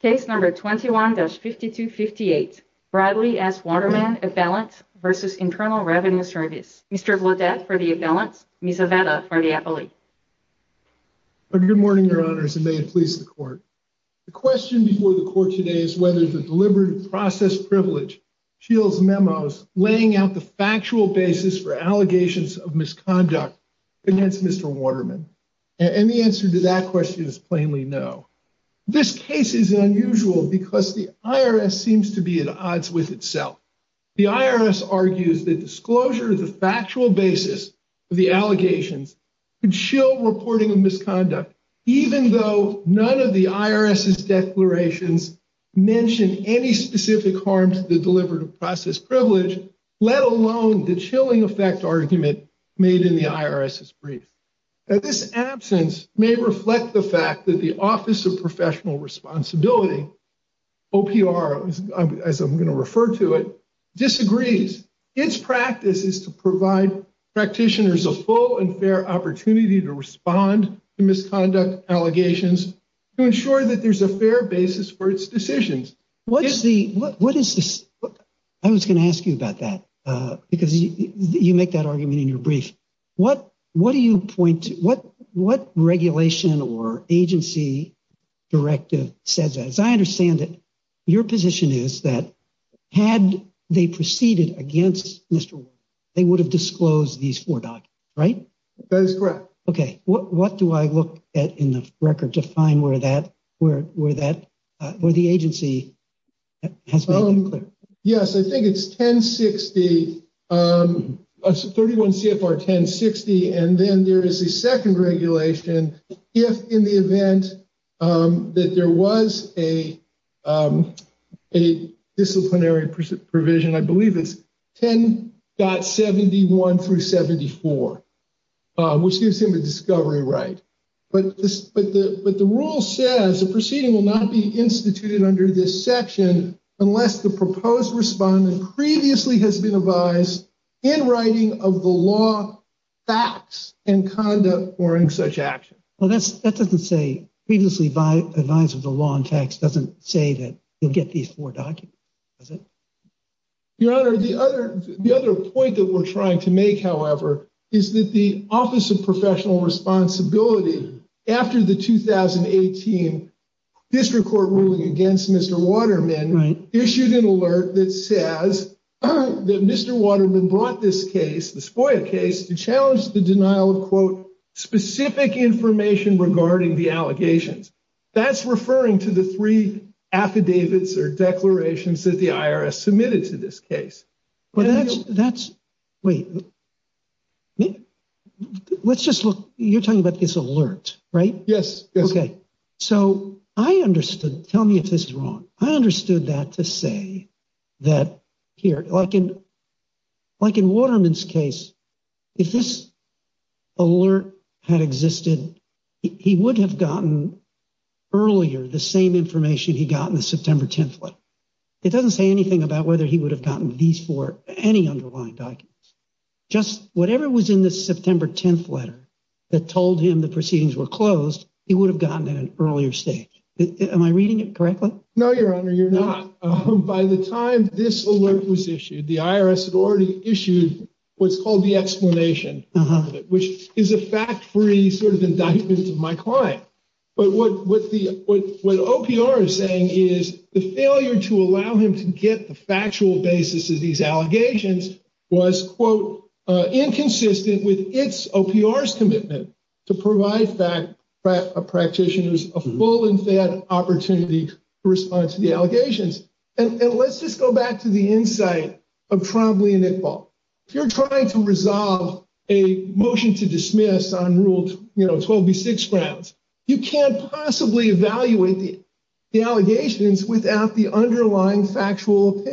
Case number 21-5258, Bradley v. Waterman, Avalance v. Internal Revenue Service. Mr. Vlodek for the Avalance, Ms. Aveda for the Appellee. Good morning, Your Honors, and may it please the Court. The question before the Court today is whether the deliberative process privilege shields memos laying out the factual basis for allegations of misconduct against Mr. Waterman, and the case is unusual because the IRS seems to be at odds with itself. The IRS argues that disclosure of the factual basis of the allegations could shield reporting of misconduct, even though none of the IRS's declarations mention any specific harm to the deliberative process privilege, let alone the chilling effect argument made in the IRS's brief. This absence may reflect the fact that the Office of Responsibility, OPR, as I'm going to refer to it, disagrees. Its practice is to provide practitioners a full and fair opportunity to respond to misconduct allegations to ensure that there's a fair basis for its decisions. What's the, what is this, I was going to ask you about that, because you make that argument in your brief. What, what do you point to, what, what regulation or agency directive says that? As I understand it, your position is that had they proceeded against Mr. Waterman, they would have disclosed these four documents, right? That is correct. Okay, what, what do I look at in the record to find where that, where, where that, where the agency has been unclear? Yes, I think it's 1060, 31 CFR 1060, and then there is a second regulation if in the event that there was a, a disciplinary provision, I believe it's 10.71 through 74, which gives him a discovery right. But this, but the, but the rule says the proceeding will not be instituted under this section unless the proposed respondent previously has been advised in writing of the law, facts and conduct or in such action. Well, that's, that doesn't say previously by advice of the law and text doesn't say that you'll get these four documents, does it? Your Honor, the other, the other point that we're trying to make, however, is that the Office of Professional Responsibility after the 2018 district court ruling against Mr. Waterman issued an alert that says that Mr. Waterman brought this case, the SPOIA case, to challenge the denial of, quote, specific information regarding the allegations. That's referring to the three affidavits or declarations that the IRS submitted to this case. Well, that's, that's, wait, let's just look, you're talking about this alert, right? Yes. Okay. So I understood, tell me if this is wrong. I understood that to like in Waterman's case, if this alert had existed, he would have gotten earlier the same information he got in the September 10th letter. It doesn't say anything about whether he would have gotten these four, any underlying documents, just whatever was in the September 10th letter that told him the proceedings were closed, he would have gotten at an earlier stage. Am I reading it correctly? No, Your Honor, you're not. By the time this alert was issued, the attorney issued what's called the explanation, which is a fact-free sort of indictment of my client. But what, what the, what, what OPR is saying is the failure to allow him to get the factual basis of these allegations was, quote, inconsistent with its OPR's commitment to provide practitioners a full and fair opportunity to respond to the allegations. And let's just go back to the insight of Trombley and Iqbal. If you're trying to resolve a motion to dismiss on Rule 12B6 grounds, you can't possibly evaluate the allegations without the underlying factual,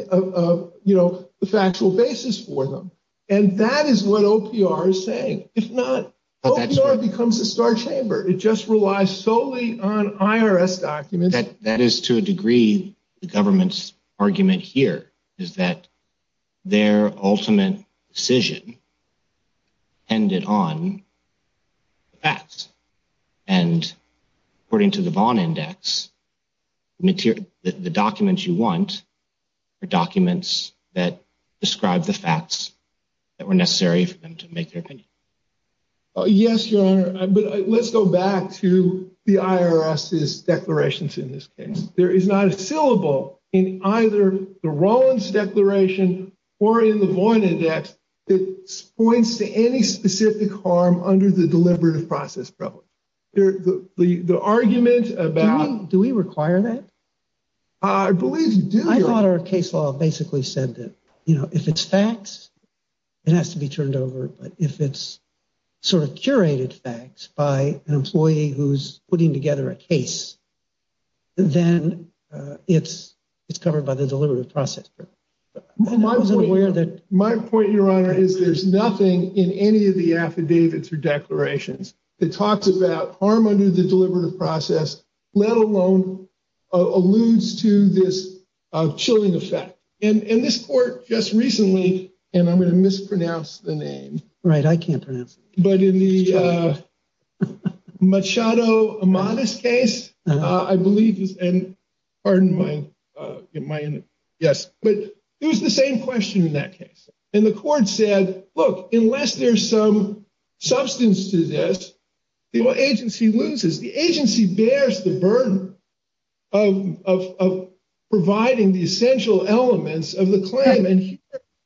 you know, the factual basis for them. And that is what OPR is saying. If not, OPR becomes a star chamber. It just relies solely on is that their ultimate decision ended on facts. And according to the Vaughn Index, the documents you want are documents that describe the facts that were necessary for them to make their opinion. Yes, Your Honor. But let's go back to the IRS's declarations. In this case, there is not a syllable in either the Rollins declaration or in the Vaughn Index that points to any specific harm under the deliberative process problem. The argument about... Do we require that? I believe you do. I thought our case law basically said that, you know, if it's facts, it has to be turned over. But if it's sort of curated facts by an employee who's putting together a case, then it's it's covered by the deliberative process. My point, Your Honor, is there's nothing in any of the affidavits or declarations that talks about harm under the deliberative process, let alone alludes to this chilling effect. And in this court just recently, and I'm going to mispronounce the name. Right, I can't pronounce it. But in the Machado Amadeus case, I believe, and pardon my, yes, but it was the same question in that case. And the court said, look, unless there's some substance to this, the agency loses. The agency bears the burden of providing the essential elements of the claim. And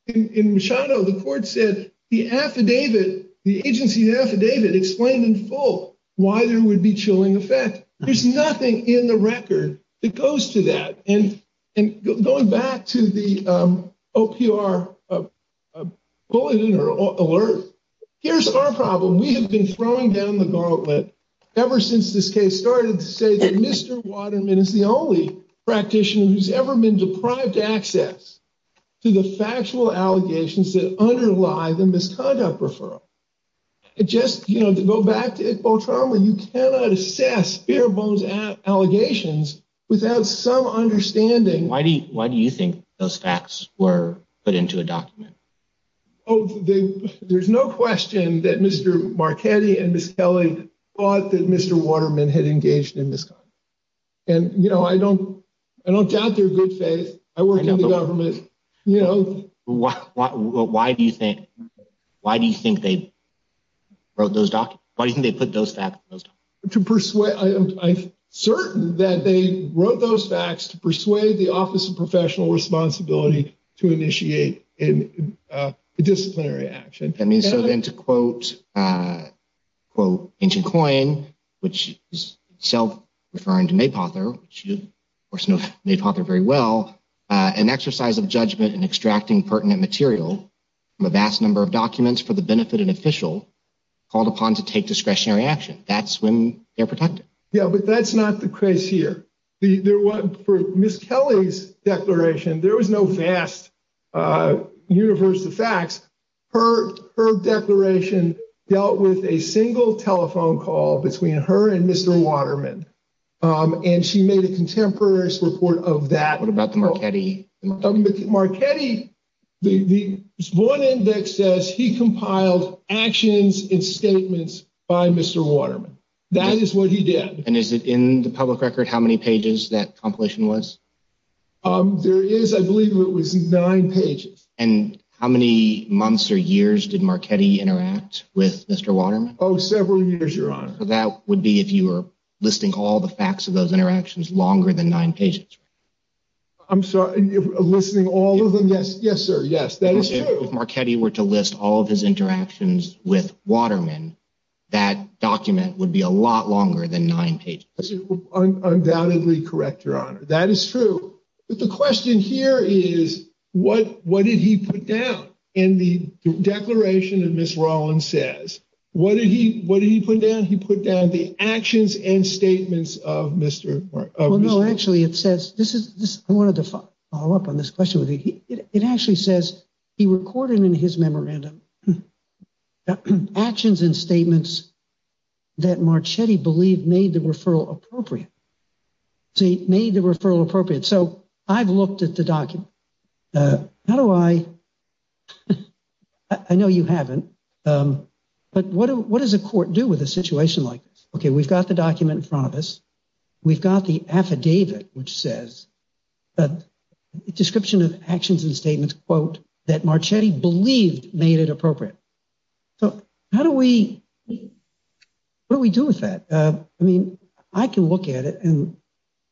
in Machado, the court said the affidavit, the agency affidavit explained in full why there would be chilling effect. There's nothing in the record that goes to that. And going back to the OPR bulletin or alert, here's our problem. We have been throwing down the gauntlet ever since this case started to say that Mr. Waterman is the only practitioner who's ever been deprived access to the factual allegations that underlie the conduct referral. It just, you know, to go back to it, you cannot assess bare bones allegations without some understanding. Why do you think those facts were put into a document? Oh, there's no question that Mr. Marchetti and Ms. Kelly thought that Mr. Waterman had engaged in misconduct. And, you know, I don't I don't doubt their good faith. I work in the government. You know, why do you think why do you think they wrote those documents? Why do you think they put those facts to persuade? I'm certain that they wrote those facts to persuade the Office of Professional Responsibility to initiate a disciplinary action. I mean, so then to quote quote Ancient Coin, which is self referring to May Potter very well, an exercise of judgment in extracting pertinent material from a vast number of documents for the benefit of an official called upon to take discretionary action. That's when they're protected. Yeah, but that's not the case here. For Ms. Kelly's declaration, there was no vast universe of facts. Her declaration dealt with a single telephone call between her and Mr. Waterman, and she made a contemporary report of that. What about the Marchetti? Marchetti, the one index says he compiled actions and statements by Mr. Waterman. That is what he did. And is it in the public record how many pages that compilation was? There is, I believe it was nine pages. And how many months or years did Marchetti interact with Mr. Waterman? That would be if you were listing all the facts of those interactions longer than nine pages. I'm sorry, listing all of them? Yes, yes, sir. Yes, that is true. If Marchetti were to list all of his interactions with Waterman, that document would be a lot longer than nine pages. Undoubtedly correct, Your Honor. That is true. But the question here is what what did he put down in the declaration? And Ms. Rollins says, what did he what did he put down? He put down the actions and statements of Mr. Well, no, actually, it says this is this. I wanted to follow up on this question with you. It actually says he recorded in his memorandum actions and statements that Marchetti believed made the referral appropriate. So he made the referral appropriate. So I've looked at the document. How do I? I know you haven't. But what what does a court do with a situation like this? OK, we've got the document in front of us. We've got the affidavit, which says that description of actions and statements, quote, that Marchetti believed made it appropriate. So how do we what do we do with that? I mean, I can look at it and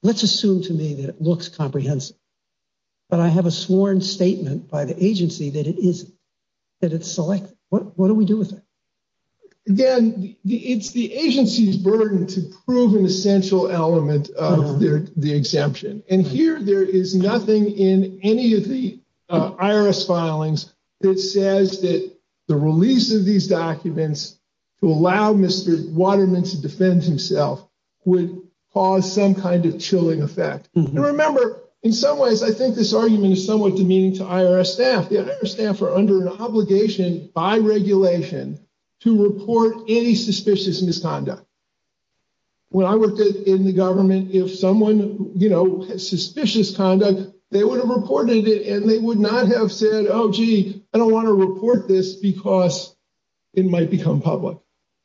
let's assume to me that it looks comprehensive. But I have a sworn statement by the agency that it is that select. What do we do with it? Again, it's the agency's burden to prove an essential element of the exemption. And here there is nothing in any of the IRS filings that says that the release of these documents to allow Mr. Waterman to defend himself would cause some kind of chilling effect. And remember, in some ways, I think this argument is somewhat demeaning to the IRS. I don't think the IRS has a jurisdiction by regulation to report any suspicious misconduct. When I worked in the government, if someone, you know, suspicious conduct, they would have reported it and they would not have said, oh, gee, I don't want to report this because it might become public.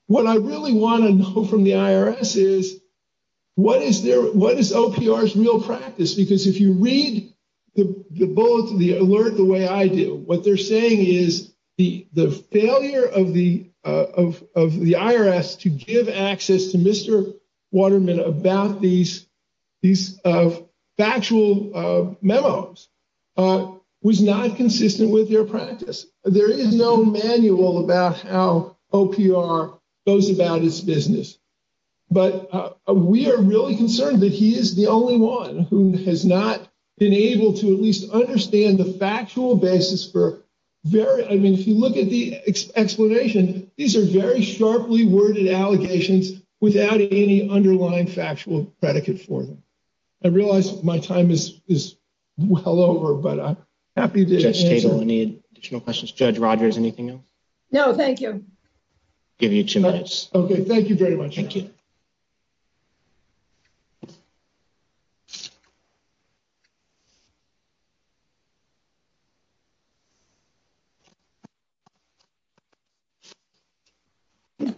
What I really want to know from the IRS is what is there? There's real practice, because if you read the bullet, the alert, the way I do, what they're saying is the the failure of the of of the IRS to give access to Mr. Waterman about these these factual memos was not consistent with their practice. There is no manual about how OPR goes about its who has not been able to at least understand the factual basis for very. I mean, if you look at the explanation, these are very sharply worded allegations without any underlying factual predicate for them. I realize my time is is well over, but I'm happy to state any additional questions. Judge Rogers, anything else? No, thank you. Give you two minutes. OK, thank you very much. Thank you. It's. Good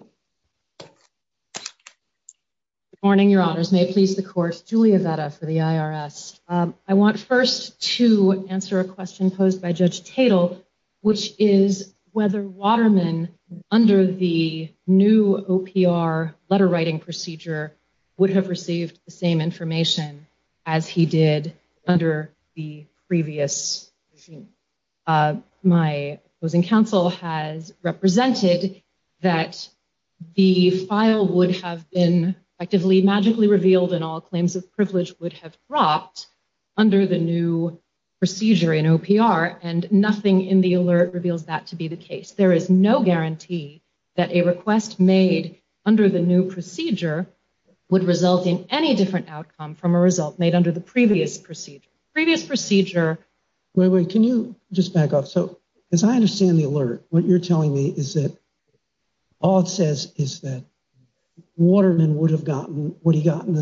morning, your honors, may it please the courts, Julia Veda for the IRS. I want first to answer a question posed by Judge Tatel, which is whether Waterman under the new OPR letter writing procedure would have received the same information as he did under the previous. My opposing counsel has represented that the file would have been actively magically revealed and all claims of privilege would have dropped under the new procedure in OPR and nothing in the alert reveals that to be the case. There is no guarantee that a request made under the new procedure would result in any different outcome from a result made under the previous procedure, previous procedure. Wait, wait, can you just back up? So as I understand the alert, what you're telling me is that all it says is that Waterman would have gotten what he got in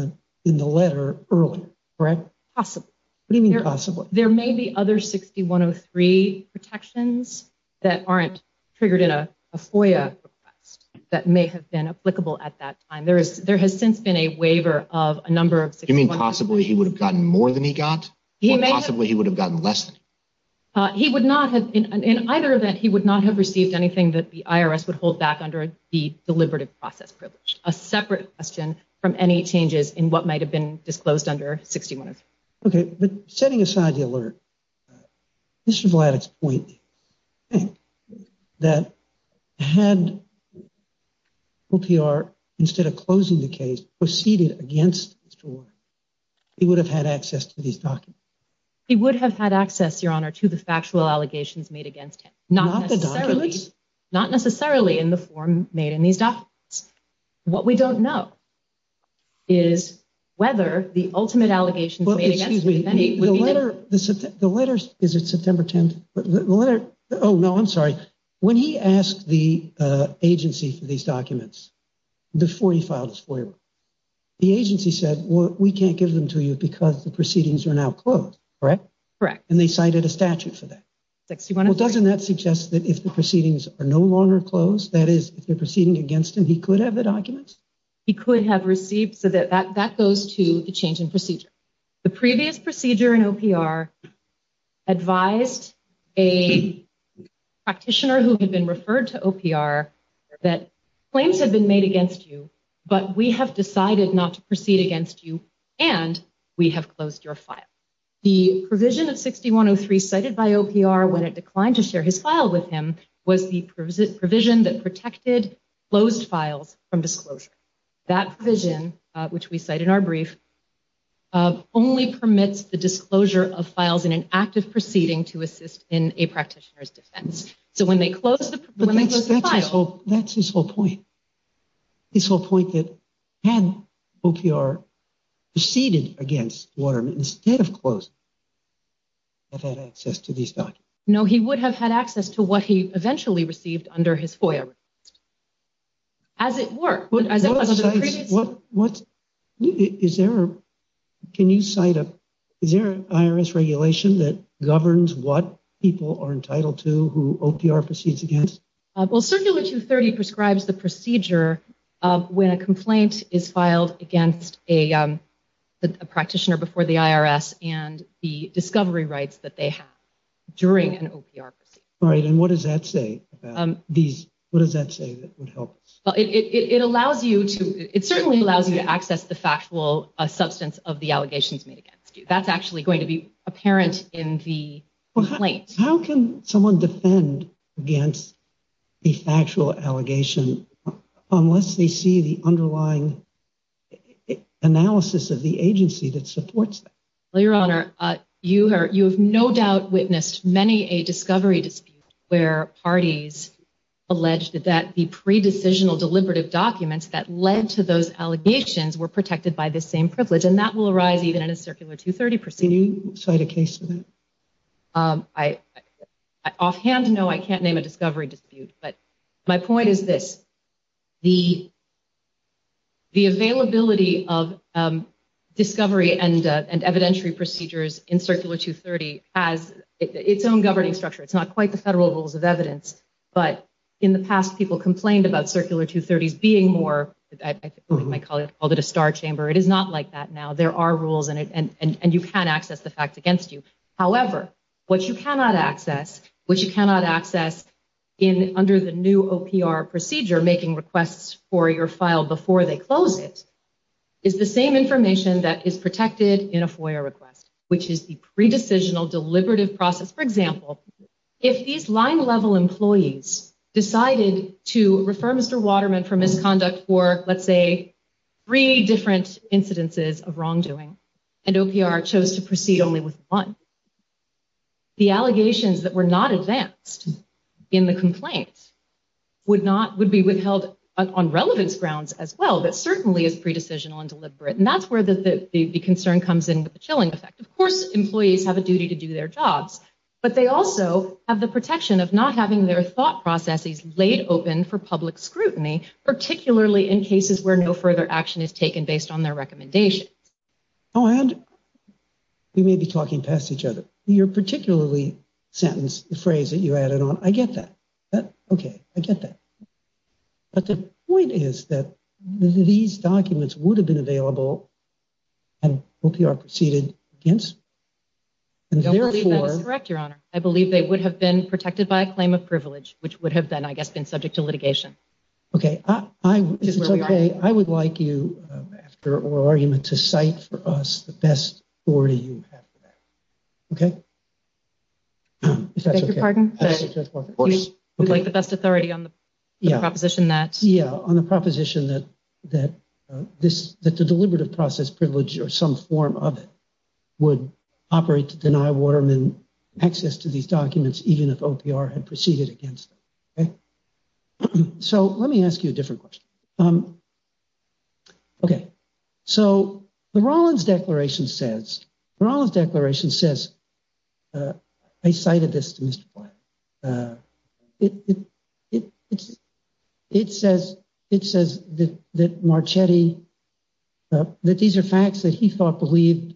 the letter earlier, correct? Possibly. What do you mean possibly? There may be other 6103 protections that aren't triggered in a FOIA request that may have been applicable at that time. There has since been a waiver of a number of 6103. You mean possibly he would have gotten more than he got or possibly he would have gotten less than. He would not have, in either event, he would not have received anything that the IRS would hold back under the deliberative process privilege, a separate question from any changes in what might have been disclosed under 6103. OK, but setting aside the alert, Mr. Had. OPR, instead of closing the case, proceeded against his door, he would have had access to these documents, he would have had access, your honor, to the factual allegations made against him, not the documents, not necessarily in the form made in these documents. What we don't know. Is whether the ultimate allegations, excuse me, the letter, the letters, is he asked the agency for these documents before he filed his FOIA? The agency said, well, we can't give them to you because the proceedings are now closed, correct? Correct. And they cited a statute for that. 6103. Doesn't that suggest that if the proceedings are no longer closed, that is if they're proceeding against him, he could have the documents? He could have received so that that goes to the change in procedure. The previous procedure in OPR advised a practitioner who had been referred to OPR that claims had been made against you, but we have decided not to proceed against you and we have closed your file. The provision of 6103 cited by OPR when it declined to share his file with him was the provision that protected closed files from disclosure. That provision, which we cite in our brief, only permits the disclosure of files in an active proceeding to assist in a practitioner's defense. So when they close the file. That's his whole point. His whole point that had OPR proceeded against Waterman instead of closing, have had access to these documents. No, he would have had access to what he eventually received under his FOIA. As it were, as it was under the previous. What, what is there, can you cite a, is there an IRS regulation that governs what people are entitled to, who OPR proceeds against? Well, Circular 230 prescribes the procedure of when a complaint is filed against a, a practitioner before the IRS and the discovery rights that they have during an OPR proceedings. Right. And what does that say about these? What does that say that would help? Well, it, it, it allows you to, it certainly allows you to access the factual substance of the allegations made against you. That's actually going to be apparent in the. Well, how can someone defend against the factual allegation unless they see the underlying analysis of the agency that supports that? Well, your honor, you are, you have no doubt witnessed many a discovery dispute where parties alleged that the pre-decisional deliberative documents that led to those allegations were protected by the same privilege. And that will arise even in a Circular 230 procedure. Can you cite a case for that? Um, I, I offhand, no, I can't name a discovery dispute, but my point is this. The, the availability of, um, discovery and, uh, and evidentiary procedures in Circular 230 has its own governing structure. It's not quite the federal rules of evidence, but in the past, people complained about Circular 230 being more, I think my colleague called it a star chamber. It is not like that now there are rules and, and, and you can't access the facts against you. However, what you cannot access, which you cannot access in under the new OPR procedure, making requests for your file before they close it is the same information that is protected in a FOIA request, which is the pre-decisional deliberative process. For example, if these line level employees decided to refer Mr. Waterman for misconduct for, let's say three different incidences of wrongdoing and OPR chose to proceed only with one, the allegations that were not advanced in the complaint would not, would be withheld on relevance grounds as well, but certainly as pre-decisional and deliberate. And that's where the, the, the concern comes in with the chilling effect. Of course, employees have a duty to do their jobs, but they also have the protection of not having their thought processes laid open for public scrutiny, particularly in cases where no further action is taken based on their recommendations. Oh, and we may be talking past each other. You're particularly sentenced the phrase that you added on. I get that. Okay. I get that. But the point is that these documents would have been available and OPR proceeded against, and therefore, I believe they would have been protected by a claim of privilege, which would have been, I guess, been subject to litigation. Okay. I, I, it's okay. I would like you after oral argument to cite for us the best authority you have. Okay. If that's okay, we'd like the best authority on the proposition. That's yeah. On the proposition that, that this, that the deliberative process privilege or some form of it would operate to deny Waterman access to these documents, even if OPR had proceeded against them. Okay. So let me ask you a different question. Okay. So the Rollins declaration says, the Rollins declaration says, I cited this to Mr. Facts that he thought believed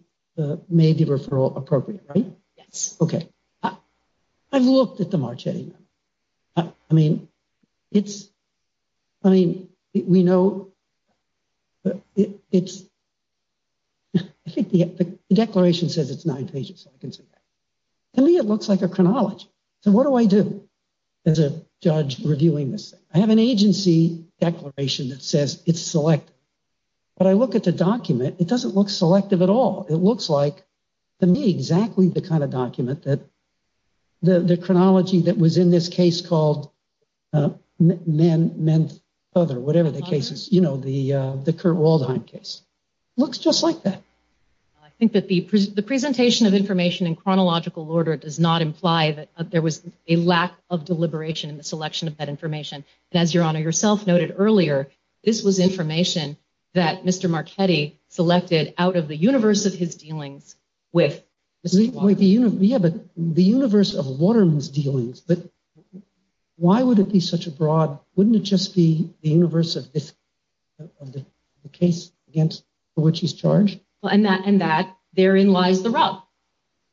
may be referral appropriate, right? Yes. Okay. I've looked at the Marchetti. I mean, it's, I mean, we know it's, I think the declaration says it's nine pages. To me, it looks like a chronology. So what do I do as a judge reviewing this? I have an agency declaration that says it's selected, but I look at the document. It doesn't look selective at all. It looks like to me, exactly the kind of document that the chronology that was in this case called men, men, other, whatever the cases, you know, the, the Kurt Waldheim case looks just like that. I think that the, the presentation of information in chronological order does not imply that there was a lack of deliberation in the selection of that information. And as your honor yourself noted earlier, this was information that Mr. Marchetti selected out of the universe of his dealings with the universe of Waterman's dealings. But why would it be such a broad? Wouldn't it just be the universe of the case against which he's charged? Well, and that, and that there in lies the rub,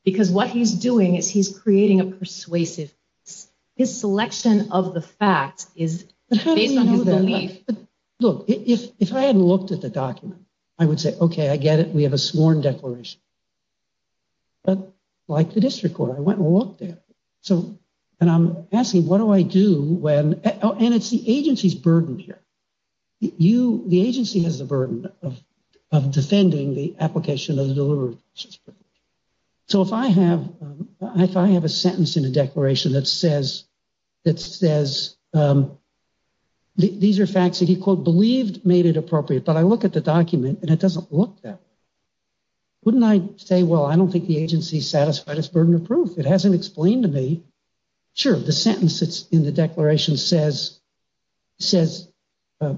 because what he's doing is he's creating a persuasive. His selection of the facts is based on his belief. Look, if, if I hadn't looked at the document, I would say, okay, I get it. We have a sworn declaration, but like the district court, I went and looked at it. So, and I'm asking, what do I do when, and it's the agency's burden here. You, the agency has the burden of, of defending the application of the deliberations. So if I have, if I have a sentence in a declaration that says, that says, these are facts that he called believed made it appropriate. But I look at the document and it doesn't look that wouldn't I say, well, I don't think the agency satisfied his burden of proof. It hasn't explained to me. Sure. The sentence it's in the declaration says, says, uh,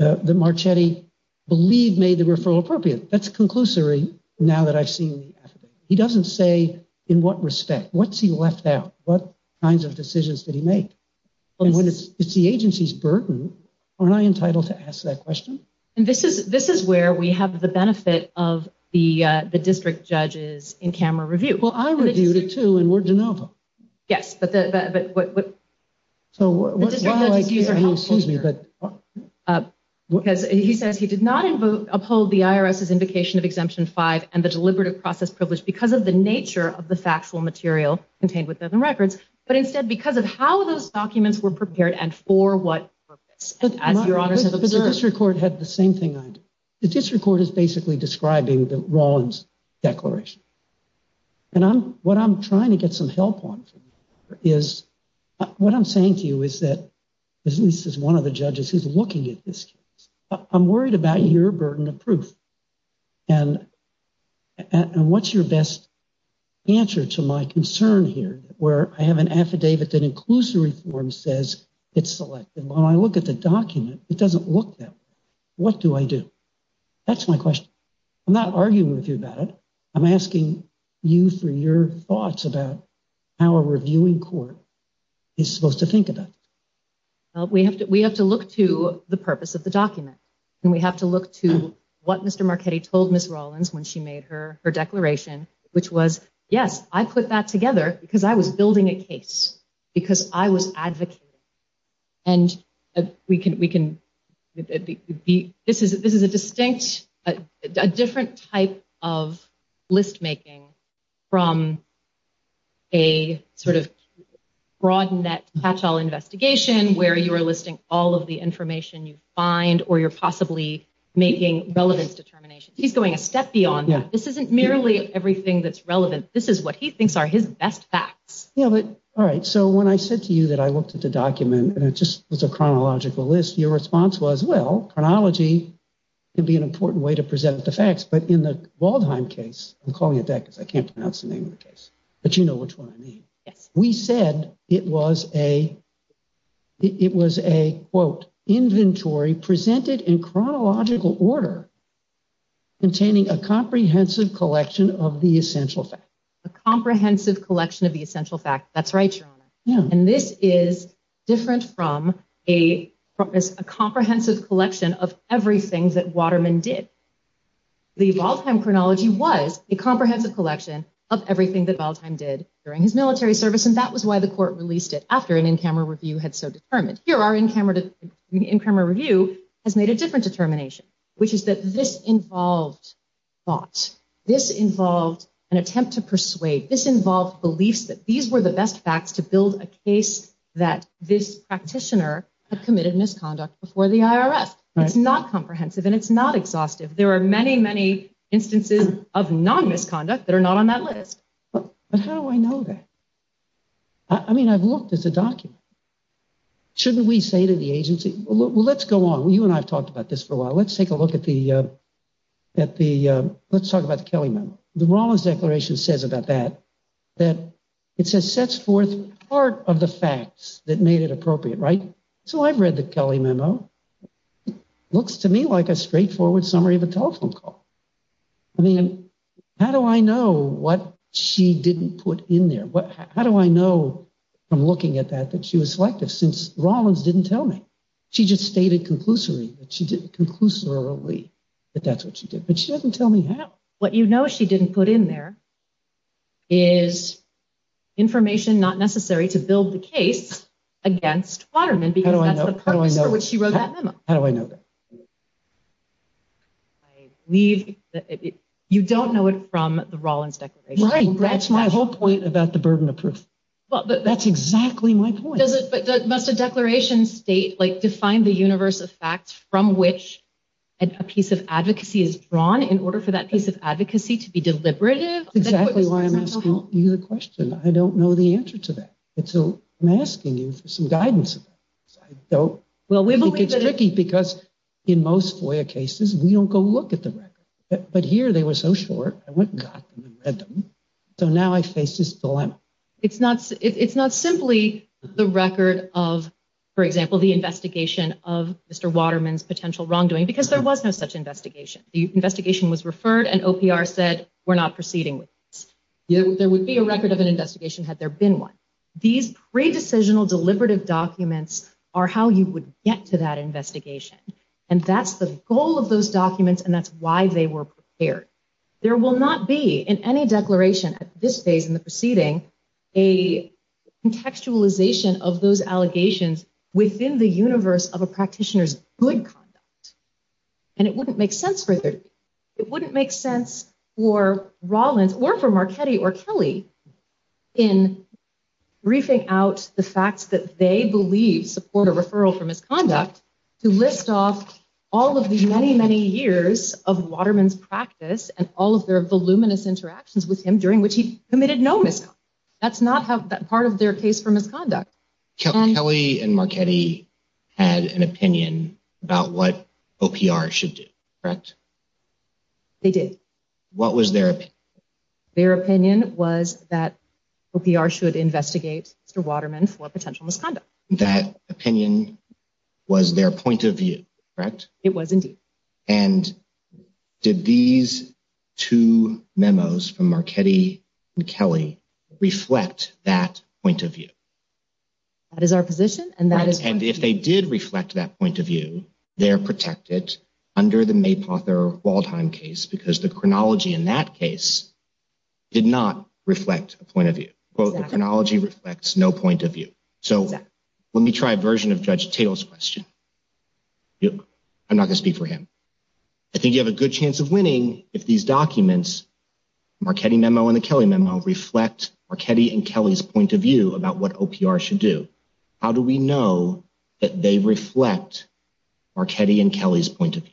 uh, the Marchetti believe made the referral appropriate. That's conclusory. Now that I've seen the affidavit, he doesn't say in what respect, what's he left out, what kinds of decisions did he make? And when it's, it's the agency's burden, aren't I entitled to ask that question? And this is, this is where we have the benefit of the, uh, the district judges in camera review. Well, I reviewed it too. And we're DeNova. Yes. But the, but, but what, what, so what, excuse me, but, uh, because he says he did not uphold the IRS's indication of exemption five and the deliberative process privilege because of the nature of the factual material contained within the records, but instead because of how those documents were prepared and for what purpose, as your honors have observed. The district court had the same thing. I did. The district court is basically describing the Rawlins declaration. And I'm, what I'm trying to get some help on is what I'm saying to you is that this is one of the judges who's looking at this case, I'm worried about your burden of proof. And, and what's your best answer to my concern here where I have an affidavit that includes the reform says it's selected. When I look at the document, it doesn't look that way. What do I do? That's my question. I'm not arguing with you about it. I'm asking you for your thoughts about how a reviewing court is supposed to think about it. Well, we have to, we have to look to the purpose of the document and we have to look to what Mr. Marchetti told Ms. Rawlins when she made her, her declaration, which was, yes, I put that together because I was building a case because I was advocating and we can, we can be, this is, this is a distinct, a different type of list-making from a sort of broad net patch all investigation where you are listing all of the making relevance determinations. He's going a step beyond that. This isn't merely everything that's relevant. This is what he thinks are his best facts. Yeah, but all right. So when I said to you that I looked at the document and it just was a chronological list, your response was, well, chronology can be an important way to present the facts, but in the Waldheim case, I'm calling it that because I can't pronounce the name of the case, but you know which one I mean. Yes. We said it was a, it was a quote, inventory presented in chronological order, containing a comprehensive collection of the essential fact. A comprehensive collection of the essential fact. That's right, Your Honor. And this is different from a comprehensive collection of everything that Waterman did. The Waldheim chronology was a comprehensive collection of everything that Waldheim did during his military service, and that was why the court released it after an in-camera review had so determined. Here, our in-camera review has made a different determination, which is that this involved thought. This involved an attempt to persuade. This involved beliefs that these were the best facts to build a case that this practitioner had committed misconduct before the IRS. It's not comprehensive and it's not exhaustive. There are many, many instances of non-misconduct that are not on that list. But how do I know that? I mean, I've looked at the document. Shouldn't we say to the agency, well, let's go on. Well, you and I've talked about this for a while. Let's take a look at the, at the, let's talk about the Kelly memo. The Rollins declaration says about that, that it says sets forth part of the facts that made it appropriate. Right? So I've read the Kelly memo. Looks to me like a straightforward summary of a telephone call. I mean, how do I know what she didn't put in there? What, how do I know from looking at that, that she was selective since Rollins didn't tell me. She just stated conclusively that she didn't conclusively, but that's what she did. But she doesn't tell me how. What you know, she didn't put in there is information, not necessary to build the case against Waterman because that's the purpose for which she wrote that memo. How do I know that? I leave that you don't know it from the Rollins declaration. That's my whole point about the burden of proof. Well, that's exactly my point. Does it, but that must have declaration state, like define the universe of facts from which a piece of advocacy is drawn in order for that piece of advocacy to be deliberative. Exactly why I'm asking you the question. I don't know the answer to that. It's a, I'm asking you for some guidance. I don't think it's tricky because in most FOIA cases, we don't go look at the record, but here they were so short. I went and got them and read them. So now I face this dilemma. It's not, it's not simply the record of, for example, the investigation of Mr. Waterman's potential wrongdoing, because there was no such investigation. The investigation was referred and OPR said, we're not proceeding with this. Yeah, there would be a record of an investigation had there been one. These pre-decisional deliberative documents are how you would get to that investigation. And that's the goal of those documents. And that's why they were prepared. There will not be in any declaration at this phase in the proceeding, a contextualization of those allegations within the universe of a practitioner's good conduct. And it wouldn't make sense for 30. It wouldn't make sense for Rollins or for Marchetti or Kelly in briefing out the facts that they believe support a referral for misconduct to list off all of the many, many years of Waterman's practice and all of their voluminous interactions with him during which he committed no misconduct. That's not how that part of their case for misconduct. Kelly and Marchetti had an opinion about what OPR should do, correct? They did. What was their opinion? Their opinion was that OPR should investigate Mr. Waterman for potential misconduct. That opinion was their point of view, correct? It was indeed. And did these two memos from Marchetti and Kelly reflect that point of view? That is our position. And that is, and if they did reflect that point of view, they're protected under the Waldheim case because the chronology in that case did not reflect a point of view. Well, the chronology reflects no point of view. So let me try a version of Judge Taylor's question. I'm not gonna speak for him. I think you have a good chance of winning if these documents, Marchetti memo and the Kelly memo reflect Marchetti and Kelly's point of view about what OPR should do. How do we know that they reflect Marchetti and Kelly's point of view?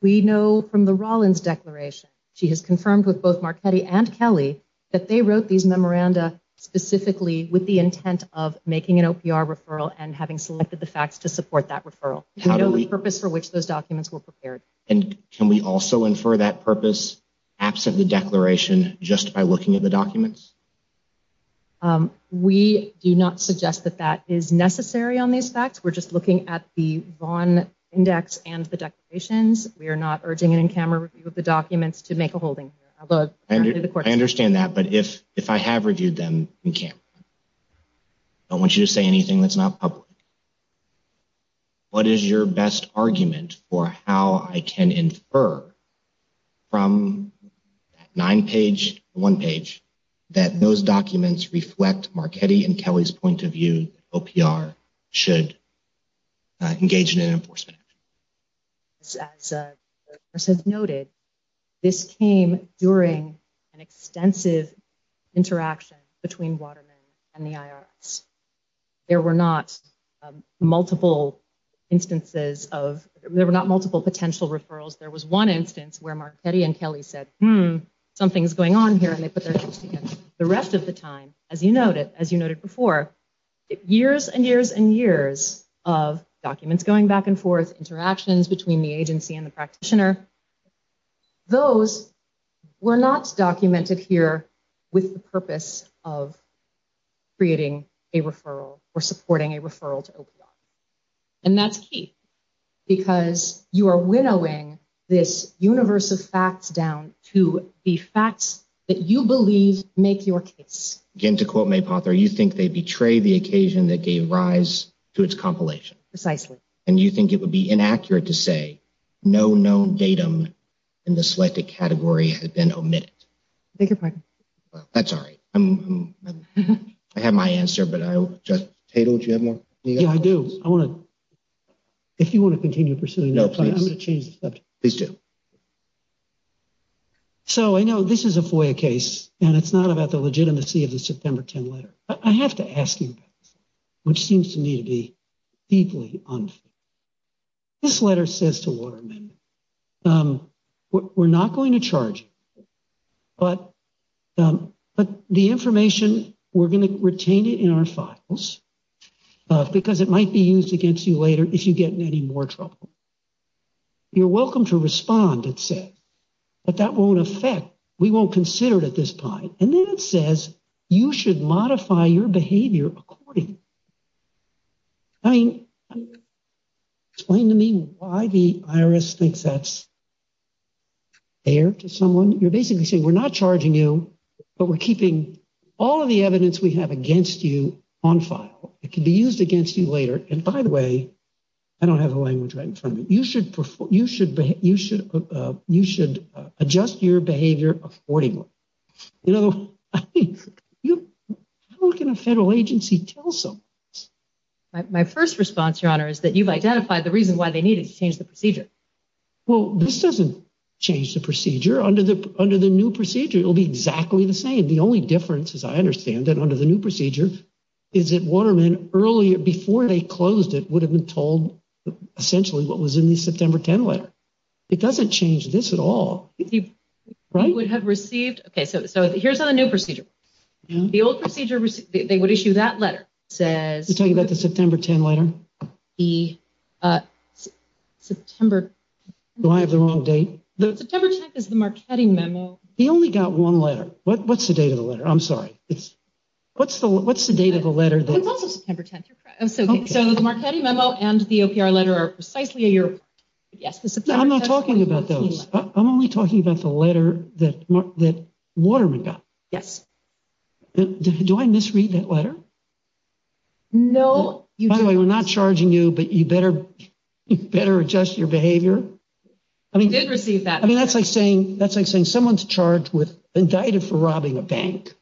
We know from the Rollins declaration, she has confirmed with both Marchetti and Kelly that they wrote these memoranda specifically with the intent of making an OPR referral and having selected the facts to support that referral. We know the purpose for which those documents were prepared. And can we also infer that purpose absent the declaration just by looking at the documents? We do not suggest that that is necessary on these facts. We're just looking at the Vaughn index and the declarations. We are not urging an in-camera review of the documents to make a holding. I understand that. But if if I have reviewed them in-camera, I want you to say anything that's not public. What is your best argument for how I can infer from nine page, one page, engage in an enforcement action? As noted, this came during an extensive interaction between Waterman and the IRS. There were not multiple instances of there were not multiple potential referrals. There was one instance where Marchetti and Kelly said, hmm, something's going on here. And they put their hands together. The rest of the time, as you noted, as you noted before, years and years and years of documents going back and forth, interactions between the agency and the practitioner. Those were not documented here with the purpose of creating a referral or supporting a referral to OPR. And that's key because you are winnowing this universe of facts down to the facts that you portray the occasion that gave rise to its compilation precisely. And you think it would be inaccurate to say no known datum in the selected category had been omitted. Thank you. That's all right. I'm I have my answer, but I just hate what you have more. Yeah, I do. I want to. If you want to continue pursuing, I'm going to change the subject. Please do. So I know this is a FOIA case and it's not about the legitimacy of the September 10 letter. I have to ask you, which seems to me to be deeply unfair. This letter says to Waterman, we're not going to charge you, but the information, we're going to retain it in our files because it might be used against you later if you get in any more trouble. You're welcome to respond, it says, but that won't affect we won't consider it at this point. And then it says you should modify your behavior accordingly. I mean, explain to me why the IRS thinks that's fair to someone. You're basically saying we're not charging you, but we're keeping all of the evidence we have against you on file. It could be used against you later. And by the way, I don't have the language right in front of me. You should you should you should you should adjust your behavior accordingly. You know, you look in a federal agency, tell some. My first response, your honor, is that you've identified the reason why they needed to change the procedure. Well, this doesn't change the procedure under the under the new procedure will be exactly the same. The only difference, as I understand that under the new procedure, is that Waterman earlier before they closed, it would have been told essentially what was in the September 10 letter. It doesn't change this at all. Right. Would have received. OK, so so here's a new procedure. The old procedure, they would issue that letter, says you're talking about the September 10 letter, the September. Do I have the wrong date? The September 10th is the Marchetti memo. They only got one letter. What's the date of the letter? I'm sorry. It's what's the what's the date of the letter? That was September 10th. So the Marchetti memo and the letter are precisely a year. Yes. I'm not talking about those. I'm only talking about the letter that that Waterman got. Yes. Do I misread that letter? No, you know, we're not charging you, but you better better adjust your behavior. I mean, you did receive that. I mean, that's like saying that's like saying someone's charged with indicted for robbing a bank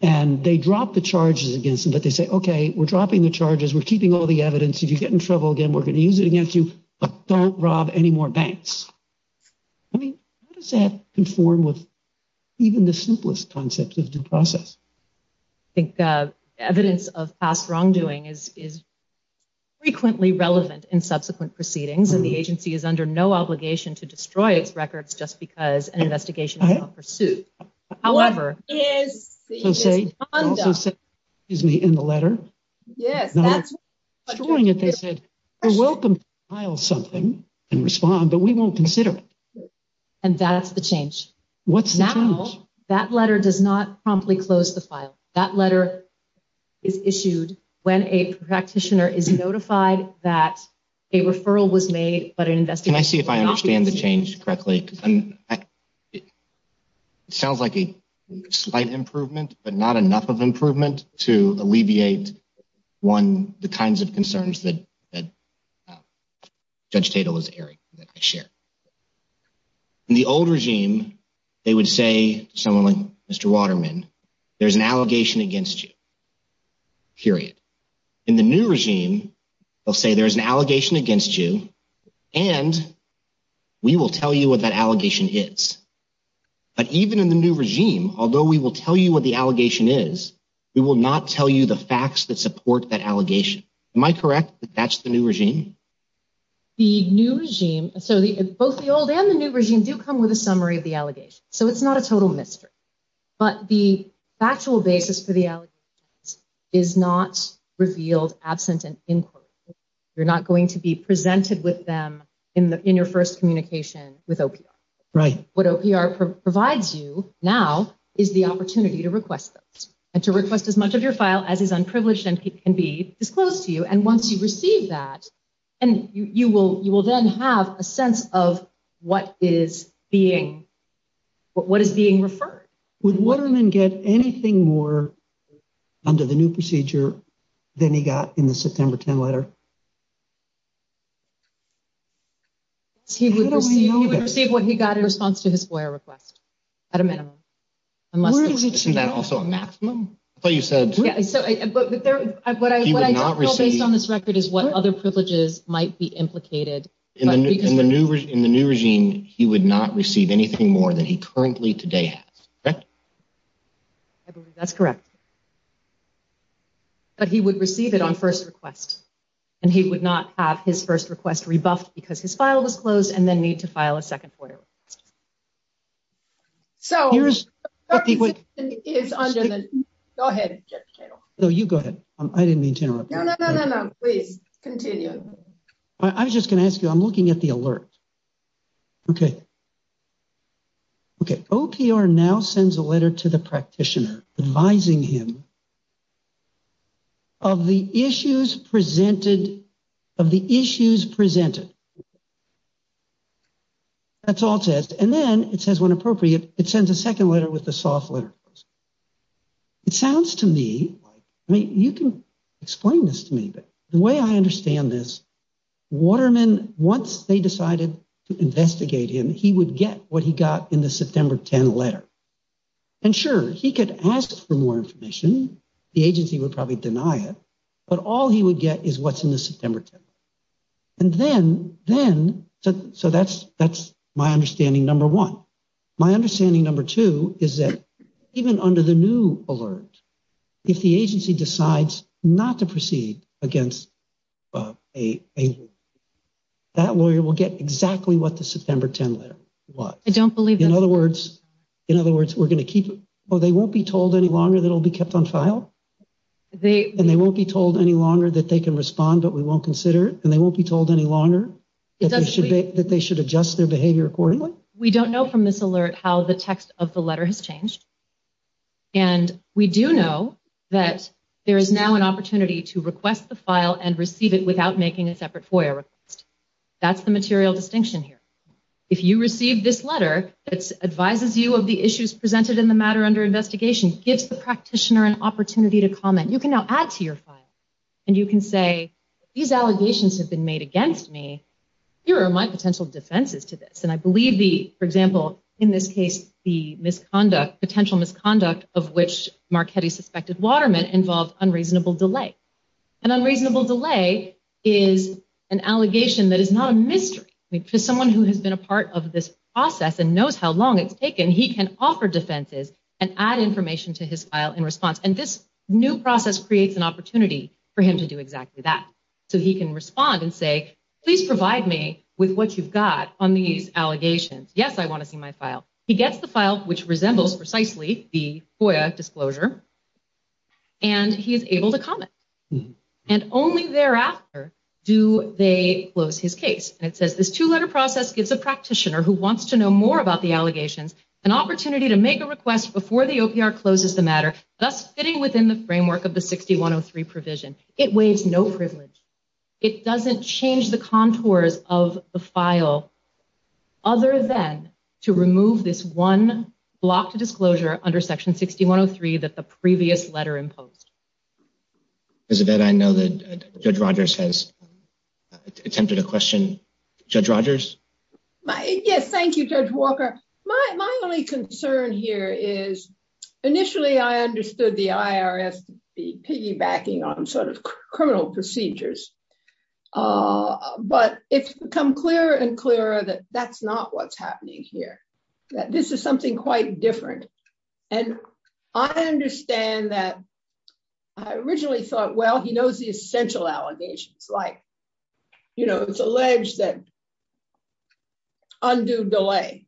and they drop the charges against them. But they say, OK, we're dropping the charges. We're keeping all the evidence. If you get in trouble again, we're going to use it against you. But don't rob any more banks. I mean, how does that conform with even the simplest concept of due process? I think evidence of past wrongdoing is is frequently relevant in subsequent proceedings, and the agency is under no obligation to destroy its records just because an investigation is on pursuit. However, it is so say is me in the letter. Yes, that's what they said. You're welcome to file something and respond, but we won't consider it. And that's the change. What's now? That letter does not promptly close the file. That letter is issued when a practitioner is notified that a referral was made. But an investigation, I see if I understand the change correctly. Sounds like a slight improvement, but not enough of improvement to alleviate one, the kinds of concerns that that Judge Tatel is airing that I share. In the old regime, they would say someone like Mr. Waterman, there's an allegation against you. Period. In the new regime, they'll say there's an allegation against you and. We will tell you what that allegation is, but even in the new regime, although we will tell you what the allegation is, we will not tell you the facts that support that allegation. Am I correct that that's the new regime? The new regime, so both the old and the new regime do come with a summary of the allegation, so it's not a total mystery, but the factual basis for the is not revealed absent an inquiry, you're not going to be presented with them in the in your first communication with OPR. Right. What OPR provides you now is the opportunity to request those and to request as much of your file as is unprivileged and can be disclosed to you. And once you receive that and you will you will then have a sense of what is being what is being referred. Would Waterman get anything more under the new procedure than he got in the September 10 letter? He would receive what he got in response to his FOIA request at a minimum. I must say, isn't that also a maximum? But you said so, but what I would not receive based on this record is what other privileges might be implicated in the new in the new regime, he would not receive anything more than he currently today has. I believe that's correct. But he would receive it on first request and he would not have his first request rebuffed because his file was closed and then need to file a second FOIA request. So here's what is under the go ahead. So you go ahead. I didn't mean to interrupt. No, no, no, no, no. Please continue. I was just going to ask you, I'm looking at the alert. OK. OK, OPR now sends a letter to the practitioner advising him. Of the issues presented of the issues presented. That's all it says, and then it says, when appropriate, it sends a second letter with the soft letter. It sounds to me like you can explain this to me, but the way I understand this, Waterman, once they decided to investigate him, he would get what he got in the September 10 letter. And sure, he could ask for more information. The agency would probably deny it, but all he would get is what's in the September 10. And then, then so that's that's my understanding. Number one, my understanding, number two, is that even under the new alert, if the agency decides not to proceed against a lawyer, that lawyer will get exactly what the September 10 letter was. I don't believe. In other words, in other words, we're going to keep it or they won't be told any longer. That'll be kept on file. They and they won't be told any longer that they can respond, but we won't consider it and they won't be told any longer that they should that they should adjust their behavior accordingly. We don't know from this alert how the text of the letter has changed. And we do know that there is now an opportunity to request the file and receive it without making a separate FOIA request. That's the material distinction here. If you receive this letter, it advises you of the issues presented in the matter under investigation, gives the practitioner an opportunity to comment. You can now add to your file and you can say these allegations have been made against me. Here are my potential defenses to this. And I believe the, for example, in this case, the misconduct, potential misconduct of which Marchetti suspected Waterman involved unreasonable delay. An unreasonable delay is an allegation that is not a mystery to someone who has been a part of this process and knows how long it's taken. And he can offer defenses and add information to his file in response. And this new process creates an opportunity for him to do exactly that so he can respond and say, please provide me with what you've got on these allegations. Yes, I want to see my file. He gets the file, which resembles precisely the FOIA disclosure. And he is able to comment and only thereafter do they close his case. It says this two letter process gives a practitioner who wants to know more about the an opportunity to make a request before the OPR closes the matter, thus fitting within the framework of the 6103 provision. It waives no privilege. It doesn't change the contours of the file other than to remove this one block to disclosure under Section 6103 that the previous letter imposed. Elizabeth, I know that Judge Rogers has attempted a question. Judge Rogers. Yes, thank you, Judge Walker. My only concern here is initially I understood the IRS piggybacking on sort of criminal procedures, but it's become clearer and clearer that that's not what's happening here, that this is something quite different. And I understand that I originally thought, well, he knows the essential allegations, like, you know, it's alleged that undue delay.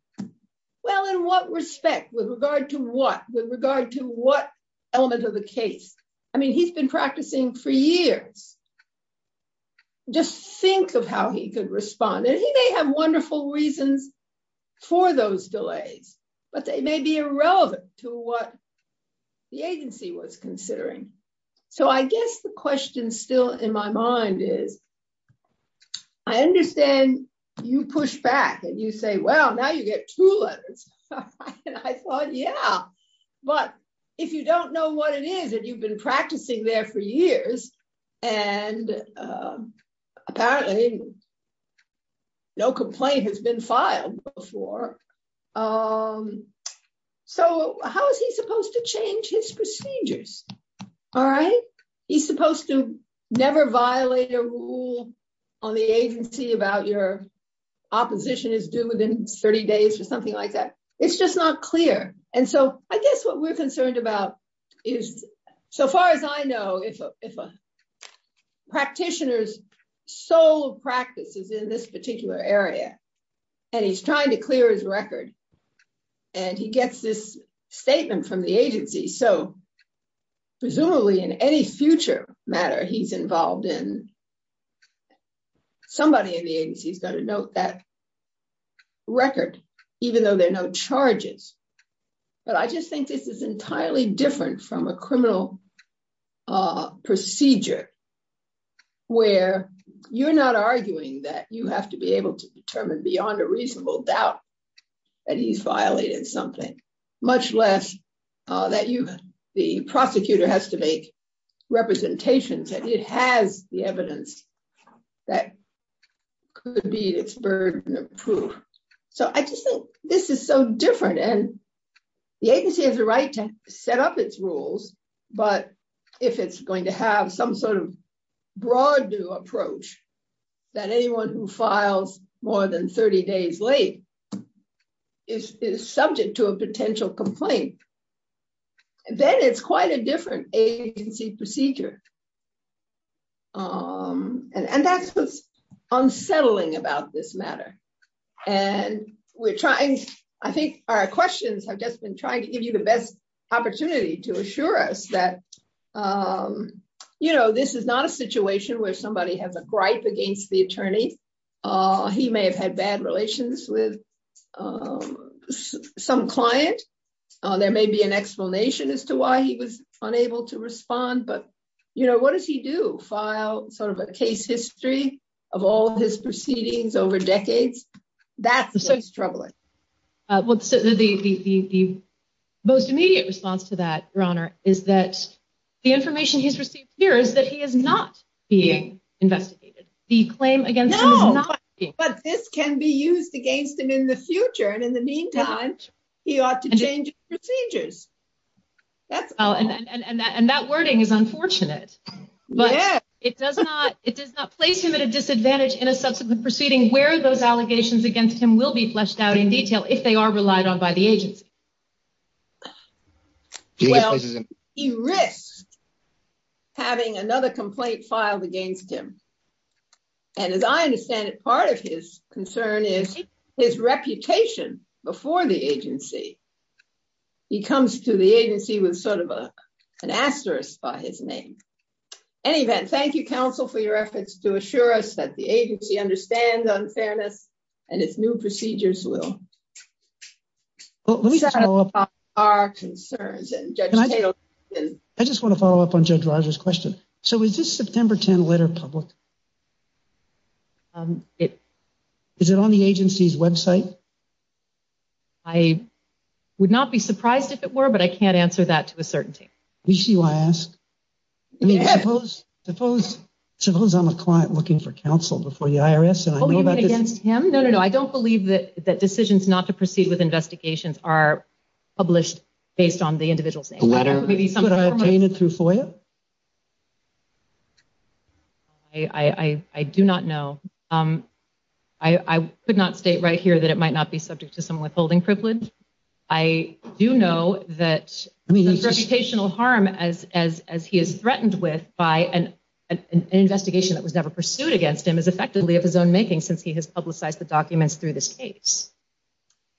Well, in what respect, with regard to what, with regard to what element of the case? I mean, he's been practicing for years. Just think of how he could respond, and he may have wonderful reasons for those delays, but they may be irrelevant to what the agency was considering. So I guess the question still in my mind is, I understand you push back and you say, well, now you get two letters. I thought, yeah, but if you don't know what it is and you've been practicing there for years and apparently no complaint has been filed before, so how is he supposed to change his procedures? All right. He's supposed to never violate a rule on the agency about your opposition is due within 30 days or something like that. It's just not clear. And so I guess what we're concerned about is, so far as I know, if a practitioner's sole practice is in this particular area and he's trying to clear his record and he gets this statement from the agency, so presumably in any future matter he's involved in, somebody in the agency has got to note that record, even though there are no charges. But I just think this is entirely different from a criminal procedure where you're not arguing that you have to be able to determine beyond a reasonable doubt that he's much less that the prosecutor has to make representations, that it has the evidence that could be its burden of proof. So I just think this is so different. And the agency has a right to set up its rules. But if it's going to have some sort of broad new approach that anyone who files more than 30 days late is subject to a potential complaint, then it's quite a different agency procedure. And that's what's unsettling about this matter. And we're trying, I think our questions have just been trying to give you the best opportunity to assure us that, you know, this is not a situation where somebody has a gripe against the attorney. He may have had bad relations with some client. There may be an explanation as to why he was unable to respond. But, you know, what does he do? File sort of a case history of all of his proceedings over decades. That's what's troubling. What's the most immediate response to that, Your Honor, is that the information he's received here is that he is not being investigated. The claim against him is not being investigated. But this can be used against him in the future. And in the meantime, he ought to change procedures. That's all. And that wording is unfortunate, but it does not place him at a disadvantage in a subsequent proceeding where those allegations against him will be fleshed out in detail if they are relied on by the agency. Well, he risks having another complaint filed against him. And as I understand it, part of his concern is his reputation before the agency. He comes to the agency with sort of an asterisk by his name. In any event, thank you, counsel, for your efforts to assure us that the agency understands unfairness and its new procedures will. Well, let me just follow up on our concerns and I just want to follow up on Judge Roger's question. So is this September 10 letter public? It is it on the agency's website? I would not be surprised if it were, but I can't answer that to a certainty. We see why I ask. I mean, suppose suppose suppose I'm a client looking for counsel before the IRS and I know that against him. No, no, no. I don't believe that that decisions not to proceed with investigations are published based on the individual's letter, maybe something that I obtained it through FOIA. I do not know, I could not state right here that it might not be subject to some withholding privilege. I do know that the reputational harm as as as he is threatened with by an investigation that was never pursued against him is effectively of his own making since he has publicized the documents through this case.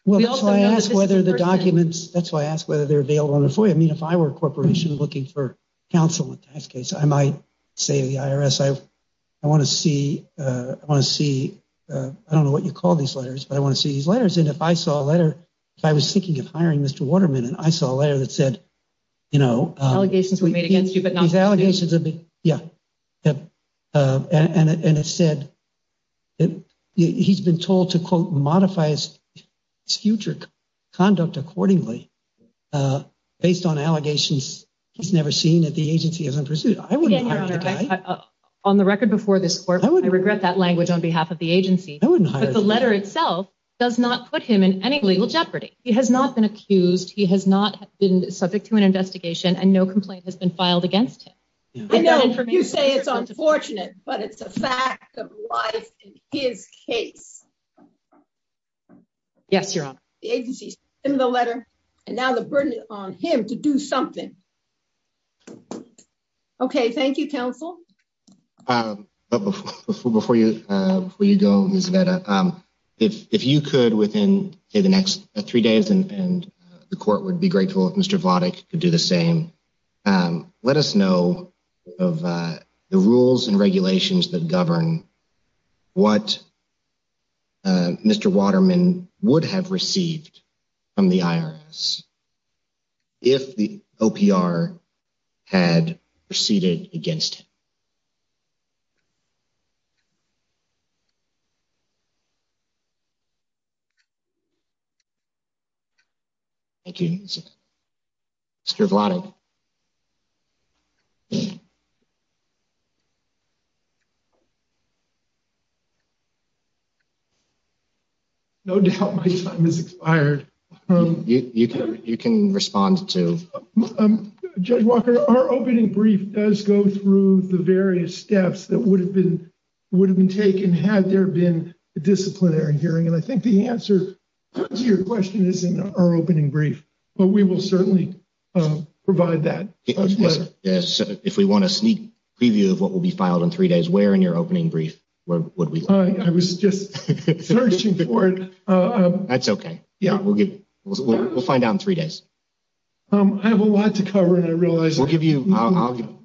Well, that's why I ask whether the documents that's why I ask whether they're available on FOIA. I mean, if I were a corporation looking for counsel in this case, I might say to the IRS, I want to see I want to see I don't know what you call these letters, but I want to see these letters. And if I saw a letter, if I was thinking of hiring Mr. Waterman and I saw a letter that said, you know, allegations were made against you, but that and it said that he's been told to, quote, modify his future conduct accordingly based on allegations he's never seen at the agency as I'm pursuing. On the record before this court, I regret that language on behalf of the agency. The letter itself does not put him in any legal jeopardy. He has not been accused. He has not been subject to an investigation and no complaint has been filed against him. I know you say it's unfortunate, but it's a fact of life in his case. Yes, your honor, the agency's in the letter and now the burden is on him to do something. OK, thank you, counsel. Before you before you go is that if you could within the next three days and the court would be grateful if Mr. Votic could do the same. Let us know of the rules and regulations that govern what. Mr. Waterman would have received from the IRS. If the OPR had proceeded against. Against. Mr. Vlado. No doubt my time is expired. You can. You can respond to Judge Walker. Our opening brief does go through the various steps that would have been would have been taken had there been a disciplinary hearing. And I think the answer to your question is in our opening brief, but we will certainly provide that if we want a sneak preview of what will be filed in three days, where in your opening brief, what would be fine? I was just searching for it. That's okay. Yeah, we'll get we'll find out in three days. I have a lot to cover and I realize we'll give you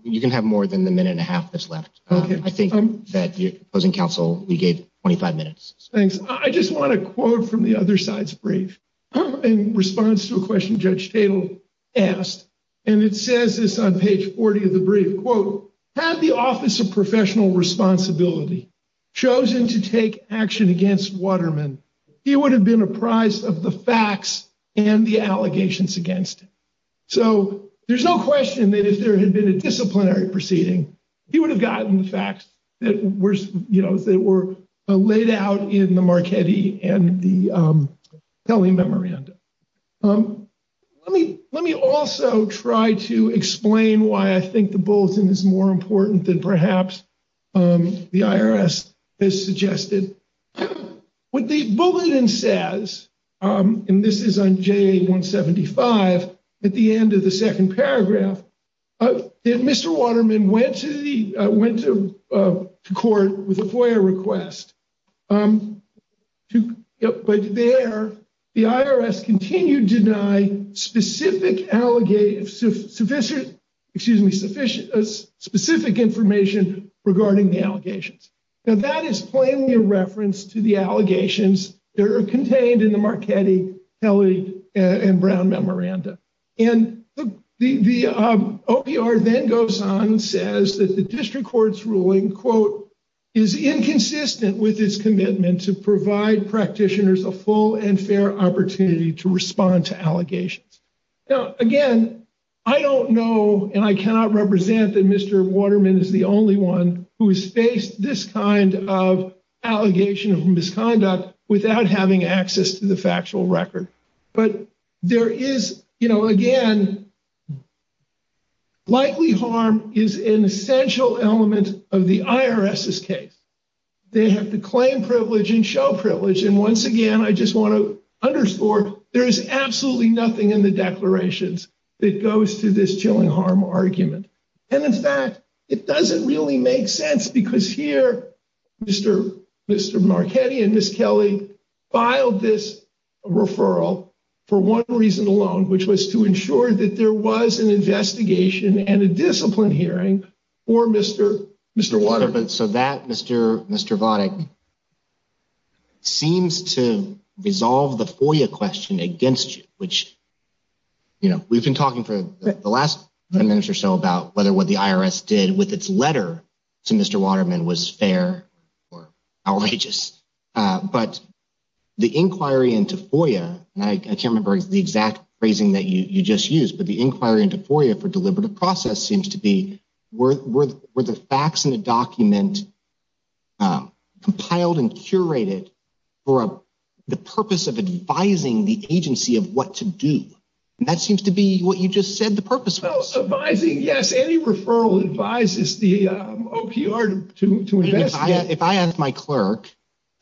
you can have more than the minute and a half that's left. I think that closing counsel, we gave 25 minutes. Thanks. I just want to quote from the other side's brief in response to a question. Judge Tatum asked, and it says this on page 40 of the brief quote, had the office of professional responsibility chosen to take action against Waterman, he would have been apprised of the facts and the allegations against him. So, there's no question that if there had been a disciplinary proceeding, he would have gotten the facts that were, you know, that were laid out in the Marquette and the telememorandum. Let me, let me also try to explain why I think the bulletin is more important than perhaps the IRS has suggested. What the bulletin says, and this is on J175 at the end of the second paragraph, that Mr. Waterman went to the went to court with a FOIA request to, but there, the IRS continued to deny specific allegations, sufficient, excuse me, sufficient, specific information regarding the allegations. Now, that is plainly a reference to the allegations that are contained in the Marquette, tele, and Brown memorandum. And the OPR then goes on and says that the district court's ruling, quote, is inconsistent with his commitment to provide practitioners a full and fair opportunity to respond to allegations. Now, again, I don't know, and I cannot represent that Mr. Waterman is the only one who has faced this kind of allegation of misconduct without having access to the factual record, but there is, you know, again, likely harm is an essential element of the IRS's case. They have to claim privilege and show privilege. And once again, I just want to underscore there is absolutely nothing in the declarations that goes to this chilling harm argument. And in fact, it doesn't really make sense because here, Mr. Mr. Marquette and Ms. Kelly filed this referral for one reason alone, which was to ensure that there was an investigation and a discipline hearing for Mr. Mr. Waterman. So, so that Mr. Mr. Votic seems to resolve the FOIA question against you, which, you know, we've been talking for the last minute or so about whether what the IRS did with its letter to Mr. Waterman was fair or outrageous, but the inquiry into FOIA, and I can't remember the exact phrasing that you just used, but the inquiry into FOIA for deliberative process seems to be worth were the facts in the document. Compiled and curated for the purpose of advising the agency of what to do, and that seems to be what you just said. The purpose of advising. Yes. Any referral advises the OPR to invest if I had my clerk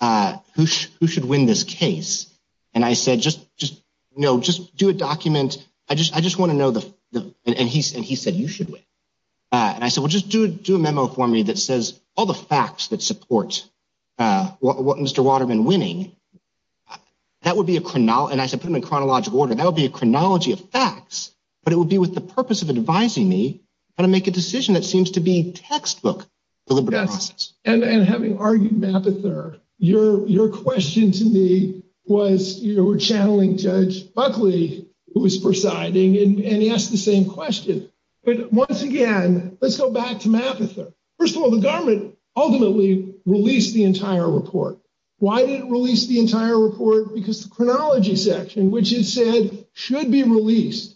who who should win this case. And I said, just just, you know, just do a document. I just I just want to know the and he's and he said, you should win. And I said, well, just do do a memo for me that says all the facts that support what Mr. Waterman winning that would be a and I said, put him in chronological order. That would be a chronology of facts, but it would be with the purpose of advising me how to make a decision. That seems to be textbook and having argued your question to me was, you know, we're channeling judge Buckley, who was presiding and he asked the same question. But once again, let's go back to map. First of all, the government ultimately released the entire report. Why didn't release the entire report? Because the chronology section, which it said should be released.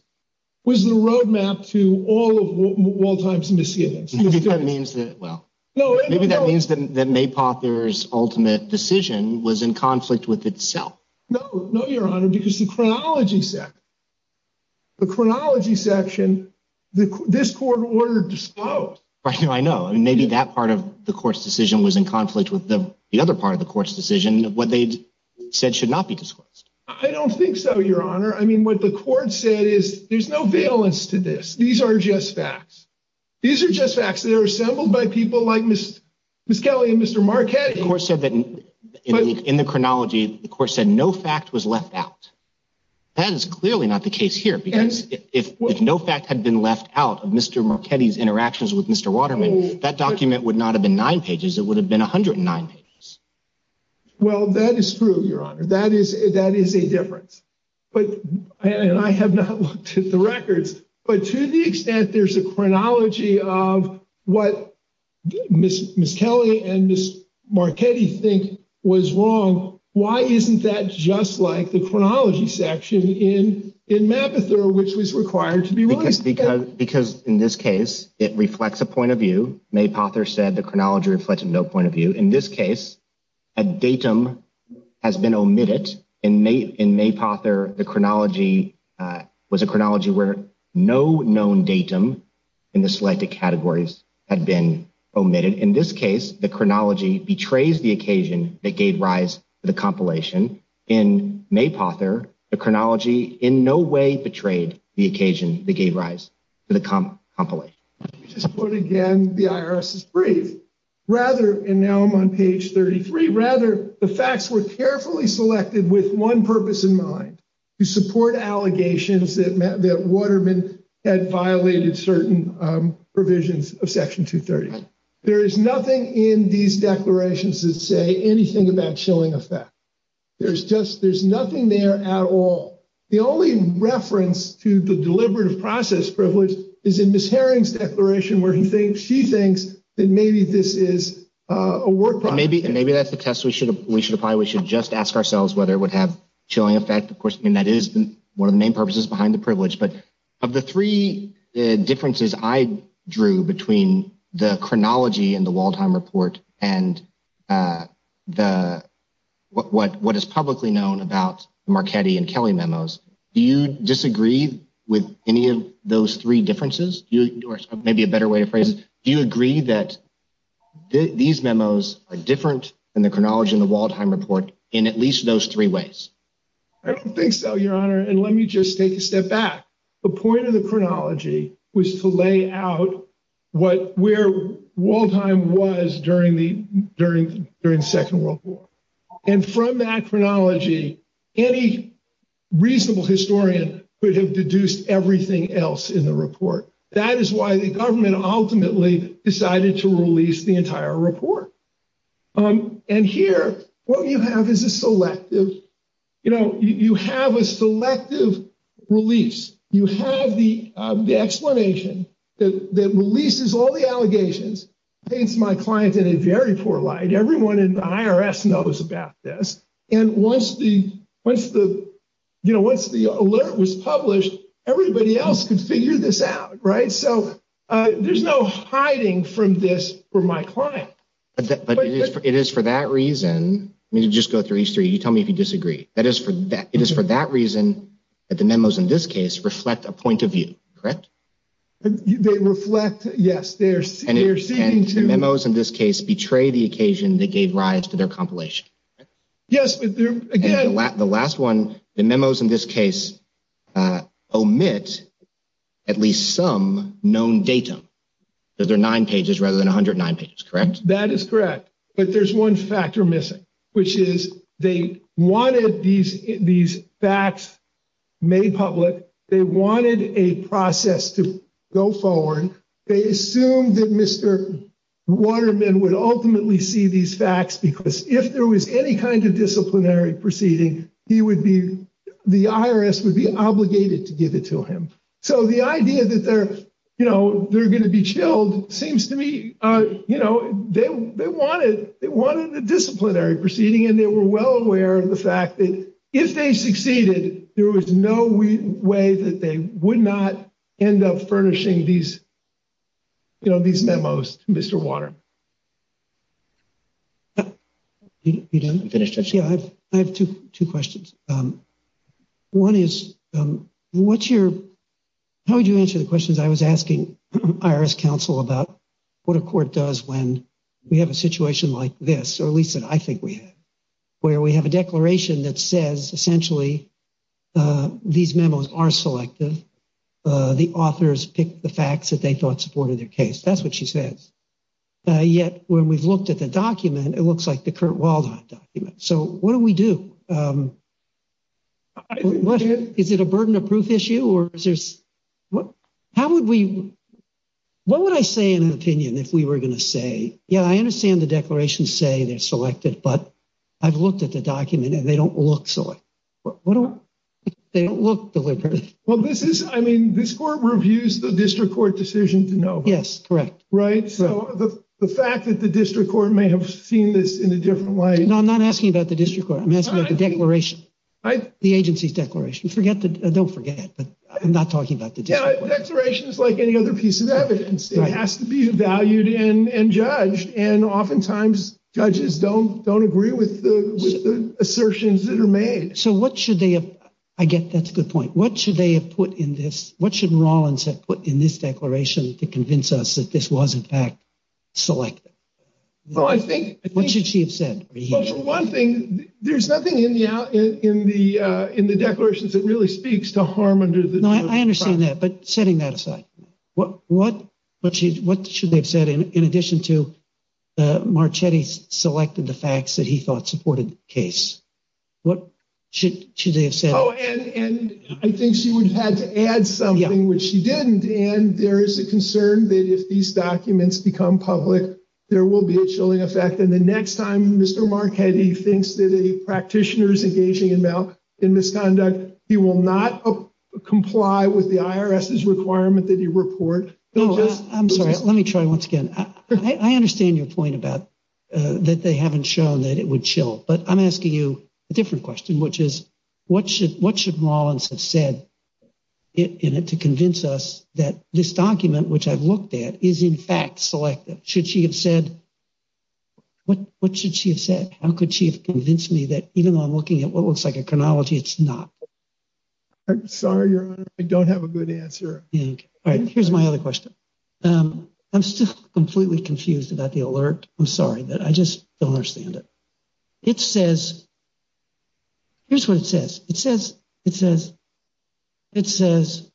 Was the road map to all of all times and to see if that means that well, no, maybe that means that may pot. There's ultimate decision was in conflict with itself. No, no, your honor, because the chronology set. The chronology section, this court order. I know. I mean, maybe that part of the court's decision was in conflict with the other part of the court's decision. What they said should not be disclosed. I don't think so. Your honor. I mean, what the court said is there's no valence to this. These are just facts. These are just facts that are assembled by people like Miss Kelly and Mr. Marquette course said that in the chronology, of course, said no fact was left out. That is clearly not the case here because if no fact had been left out of Mr. McKinney's interactions with Mr. Waterman that document would not have been nine pages. It would have been 109 pages. Well, that is true. Your honor. That is that is a difference, but I have not looked at the records, but to the extent there's a chronology of what Miss Kelly and Miss Marquette think was wrong. Why isn't that? Just like the chronology section in in map, which was required to be because because in this case, it reflects a point of view. May Potter said the chronology reflected no point of view in this case. A datum has been omitted in May in May Potter. The chronology was a chronology where no known datum in the selected categories had been omitted. In this case, the chronology betrays the occasion that gave rise to the compilation in May. Potter, the chronology in no way betrayed the occasion that gave rise to the compilation. Just put again, the IRS is brief rather and now I'm on page 33. Rather, the facts were carefully selected with one purpose in mind to support allegations that that Waterman had violated certain provisions of section 230. There is nothing in these declarations that say anything about showing effect. There's just there's nothing there at all. The only reference to the deliberative process privilege is in Miss Herring's declaration, where he thinks she thinks that maybe this is a word. But maybe maybe that's the test we should we should apply. We should just ask ourselves whether it would have chilling effect. Of course, I mean, that is one of the main purposes behind the privilege. But of the three differences I drew between the chronology and the Waldheim report and the what what what is publicly known about Marchetti and Kelly memos, do you disagree with any of those three differences? You are maybe a better way of phrasing. Do you agree that these memos are different than the chronology in the Waldheim report in at least those three ways? I don't think so, Your Honor, and let me just take a step back. The point of the chronology was to lay out what where Waldheim was during the during during the Second World War. And from that chronology, any reasonable historian could have deduced everything else in the report. That is why the government ultimately decided to release the entire report. And here, what you have is a selective, you know, you have a selective release. You have the explanation that releases all the allegations. It's my client in a very poor light. Everyone in the IRS knows about this. And once the, once the, you know, once the alert was published, everybody else could figure this out. Right? So there's no hiding from this for my client. But it is for that reason. Let me just go through these three. You tell me if you disagree. That is for that. It is for that reason that the memos in this case reflect a point of view. Correct? They reflect. Yes, they're seeing two memos in this case, betray the occasion that gave rise to their compilation. Yes, but again, the last one, the memos in this case omit at least some known datum. There are nine pages rather than 109 pages. Correct? That is correct. But there's one factor missing, which is they wanted these, these facts made public. They wanted a process to go forward. They assumed that Mr. Waterman would ultimately see these facts, because if there was any kind of disciplinary proceeding, he would be, the IRS would be obligated to give it to him. So the idea that they're, you know, they're going to be chilled seems to me, you know, they wanted, they wanted a disciplinary proceeding, and they were well aware of the fact that if they succeeded, there was no way that they would not end up furnishing these, you know, these memos to Mr. Waterman. You done? Yeah, I've, I have two, two questions. One is, what's your, how would you answer the questions I was asking IRS counsel about what a court does when we have a situation like this, or at least I think we have, where we have a declaration that says, essentially, these memos are selective, the authors pick the facts that they thought supported their case. That's what she says. Yet, when we've looked at the document, it looks like the current Waldo document. So what do we do? What is it a burden of proof issue or is there's what? How would we what would I say in an opinion? If we were going to say, yeah, I understand the declaration say they're selected, but I've looked at the document and they don't look. So what they don't look deliberately well, this is I mean, this court reviews the district court decision to know. Yes. Correct. Right? So the fact that the district court may have seen this in a different way. No, I'm not asking about the district court. I'm asking the declaration, the agency's declaration. Forget that. Don't forget that. I'm not talking about the declaration is like any other piece of evidence. It has to be valued in and judged. And oftentimes judges don't don't agree with the assertions that are made. So what should they have? I get that's a good point. What should they have put in this? What should Rawlins have put in this declaration to convince us that this was, in fact, selected? Well, I think what should she have said? One thing. There's nothing in the in the in the declarations that really speaks to harm under the. I understand that. But setting that aside, what what what what should they have said in addition to the Marchetti's selected the facts that he thought supported the case? What should they have said? Oh, and I think she would have had to add something, which she didn't. And there is a concern that if these documents become public, there will be a chilling effect. And the next time Mr. Marchetti thinks that a practitioner is engaging in in misconduct, he will not comply with the IRS's requirement that you report. I'm sorry. Let me try once again. I understand your point about that. They haven't shown that it would chill. But I'm asking you a different question, which is, what should what should Rawlins have said in it to convince us that this document, which I've looked at, is, in fact, selective? Should she have said what? What should she have said? How could she have convinced me that even though I'm looking at what looks like a chronology? It's not sorry. I don't have a good answer. All right. Here's my other question. I'm still completely confused about the alert. I'm sorry that I just don't understand it. It says. Here's what it says. It says it says. It says.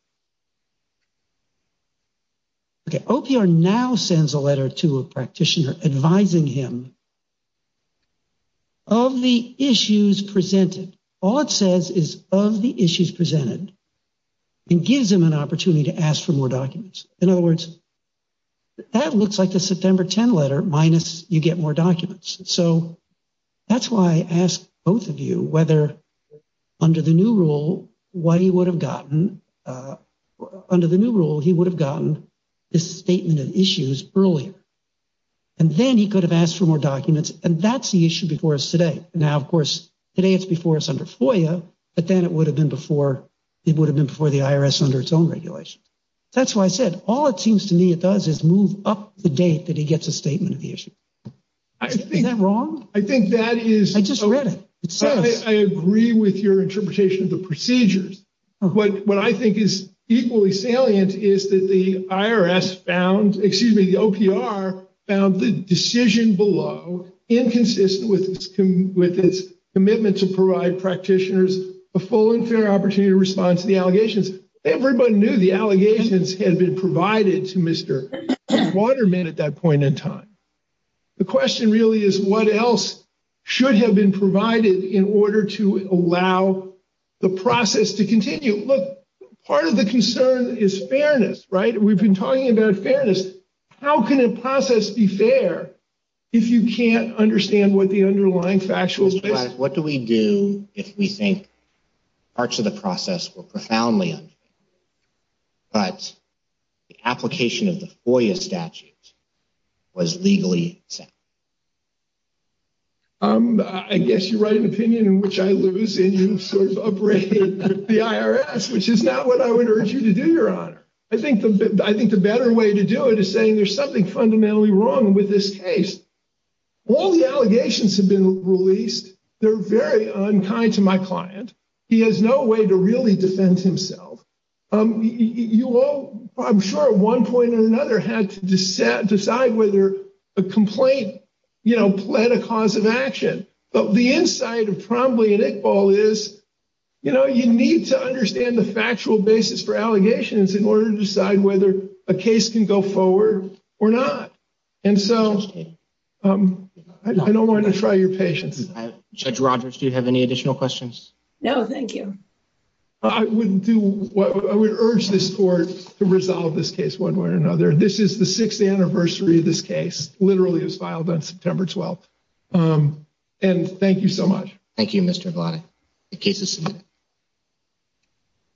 Okay, OPR now sends a letter to a practitioner advising him. Of the issues presented, all it says is of the issues presented and gives him an opportunity to ask for more documents. In other words, that looks like the September 10 letter. Minus you get more documents. So that's why I asked both of you whether under the new rule, what he would have gotten under the new rule, he would have gotten more documents. He would have gotten this statement of issues earlier. And then he could have asked for more documents. And that's the issue before us today. Now, of course, today it's before us under FOIA, but then it would have been before it would have been before the IRS under its own regulations. That's why I said all it seems to me it does is move up the date that he gets a statement of the issue. I think that wrong. I think that is. I just read it. So I agree with your interpretation of the procedures, but what I think is equally salient is that the IRS found, excuse me, the OPR found the decision below inconsistent with with its commitment to provide practitioners a full and fair opportunity to respond to the allegations. Everybody knew the allegations had been provided to Mr. Waterman at that point in time. The question really is what else should have been provided in order to allow the process to continue? Look, part of the concern is fairness, right? We've been talking about fairness. How can a process be fair? If you can't understand what the underlying factual, what do we do if we think parts of the process were profoundly? But the application of the FOIA statute was legally. I guess you write an opinion in which I lose and you sort of operate the IRS, which is not what I would urge you to do. Your honor. I think I think the better way to do it is saying there's something fundamentally wrong with this case. All the allegations have been released. They're very unkind to my client. He has no way to really defend himself. You all, I'm sure at one point or another had to decide whether a complaint. You know, plan a cause of action, but the inside of probably an equal is. You know, you need to understand the factual basis for allegations in order to decide whether a case can go forward or not. And so I don't want to try your patience. Judge Rogers. Do you have any additional questions? No, thank you. I wouldn't do what I would urge this court to resolve this case one way or another. This is the 6th anniversary of this case literally is filed on September 12th. And thank you so much. Thank you. Mr. Blatt.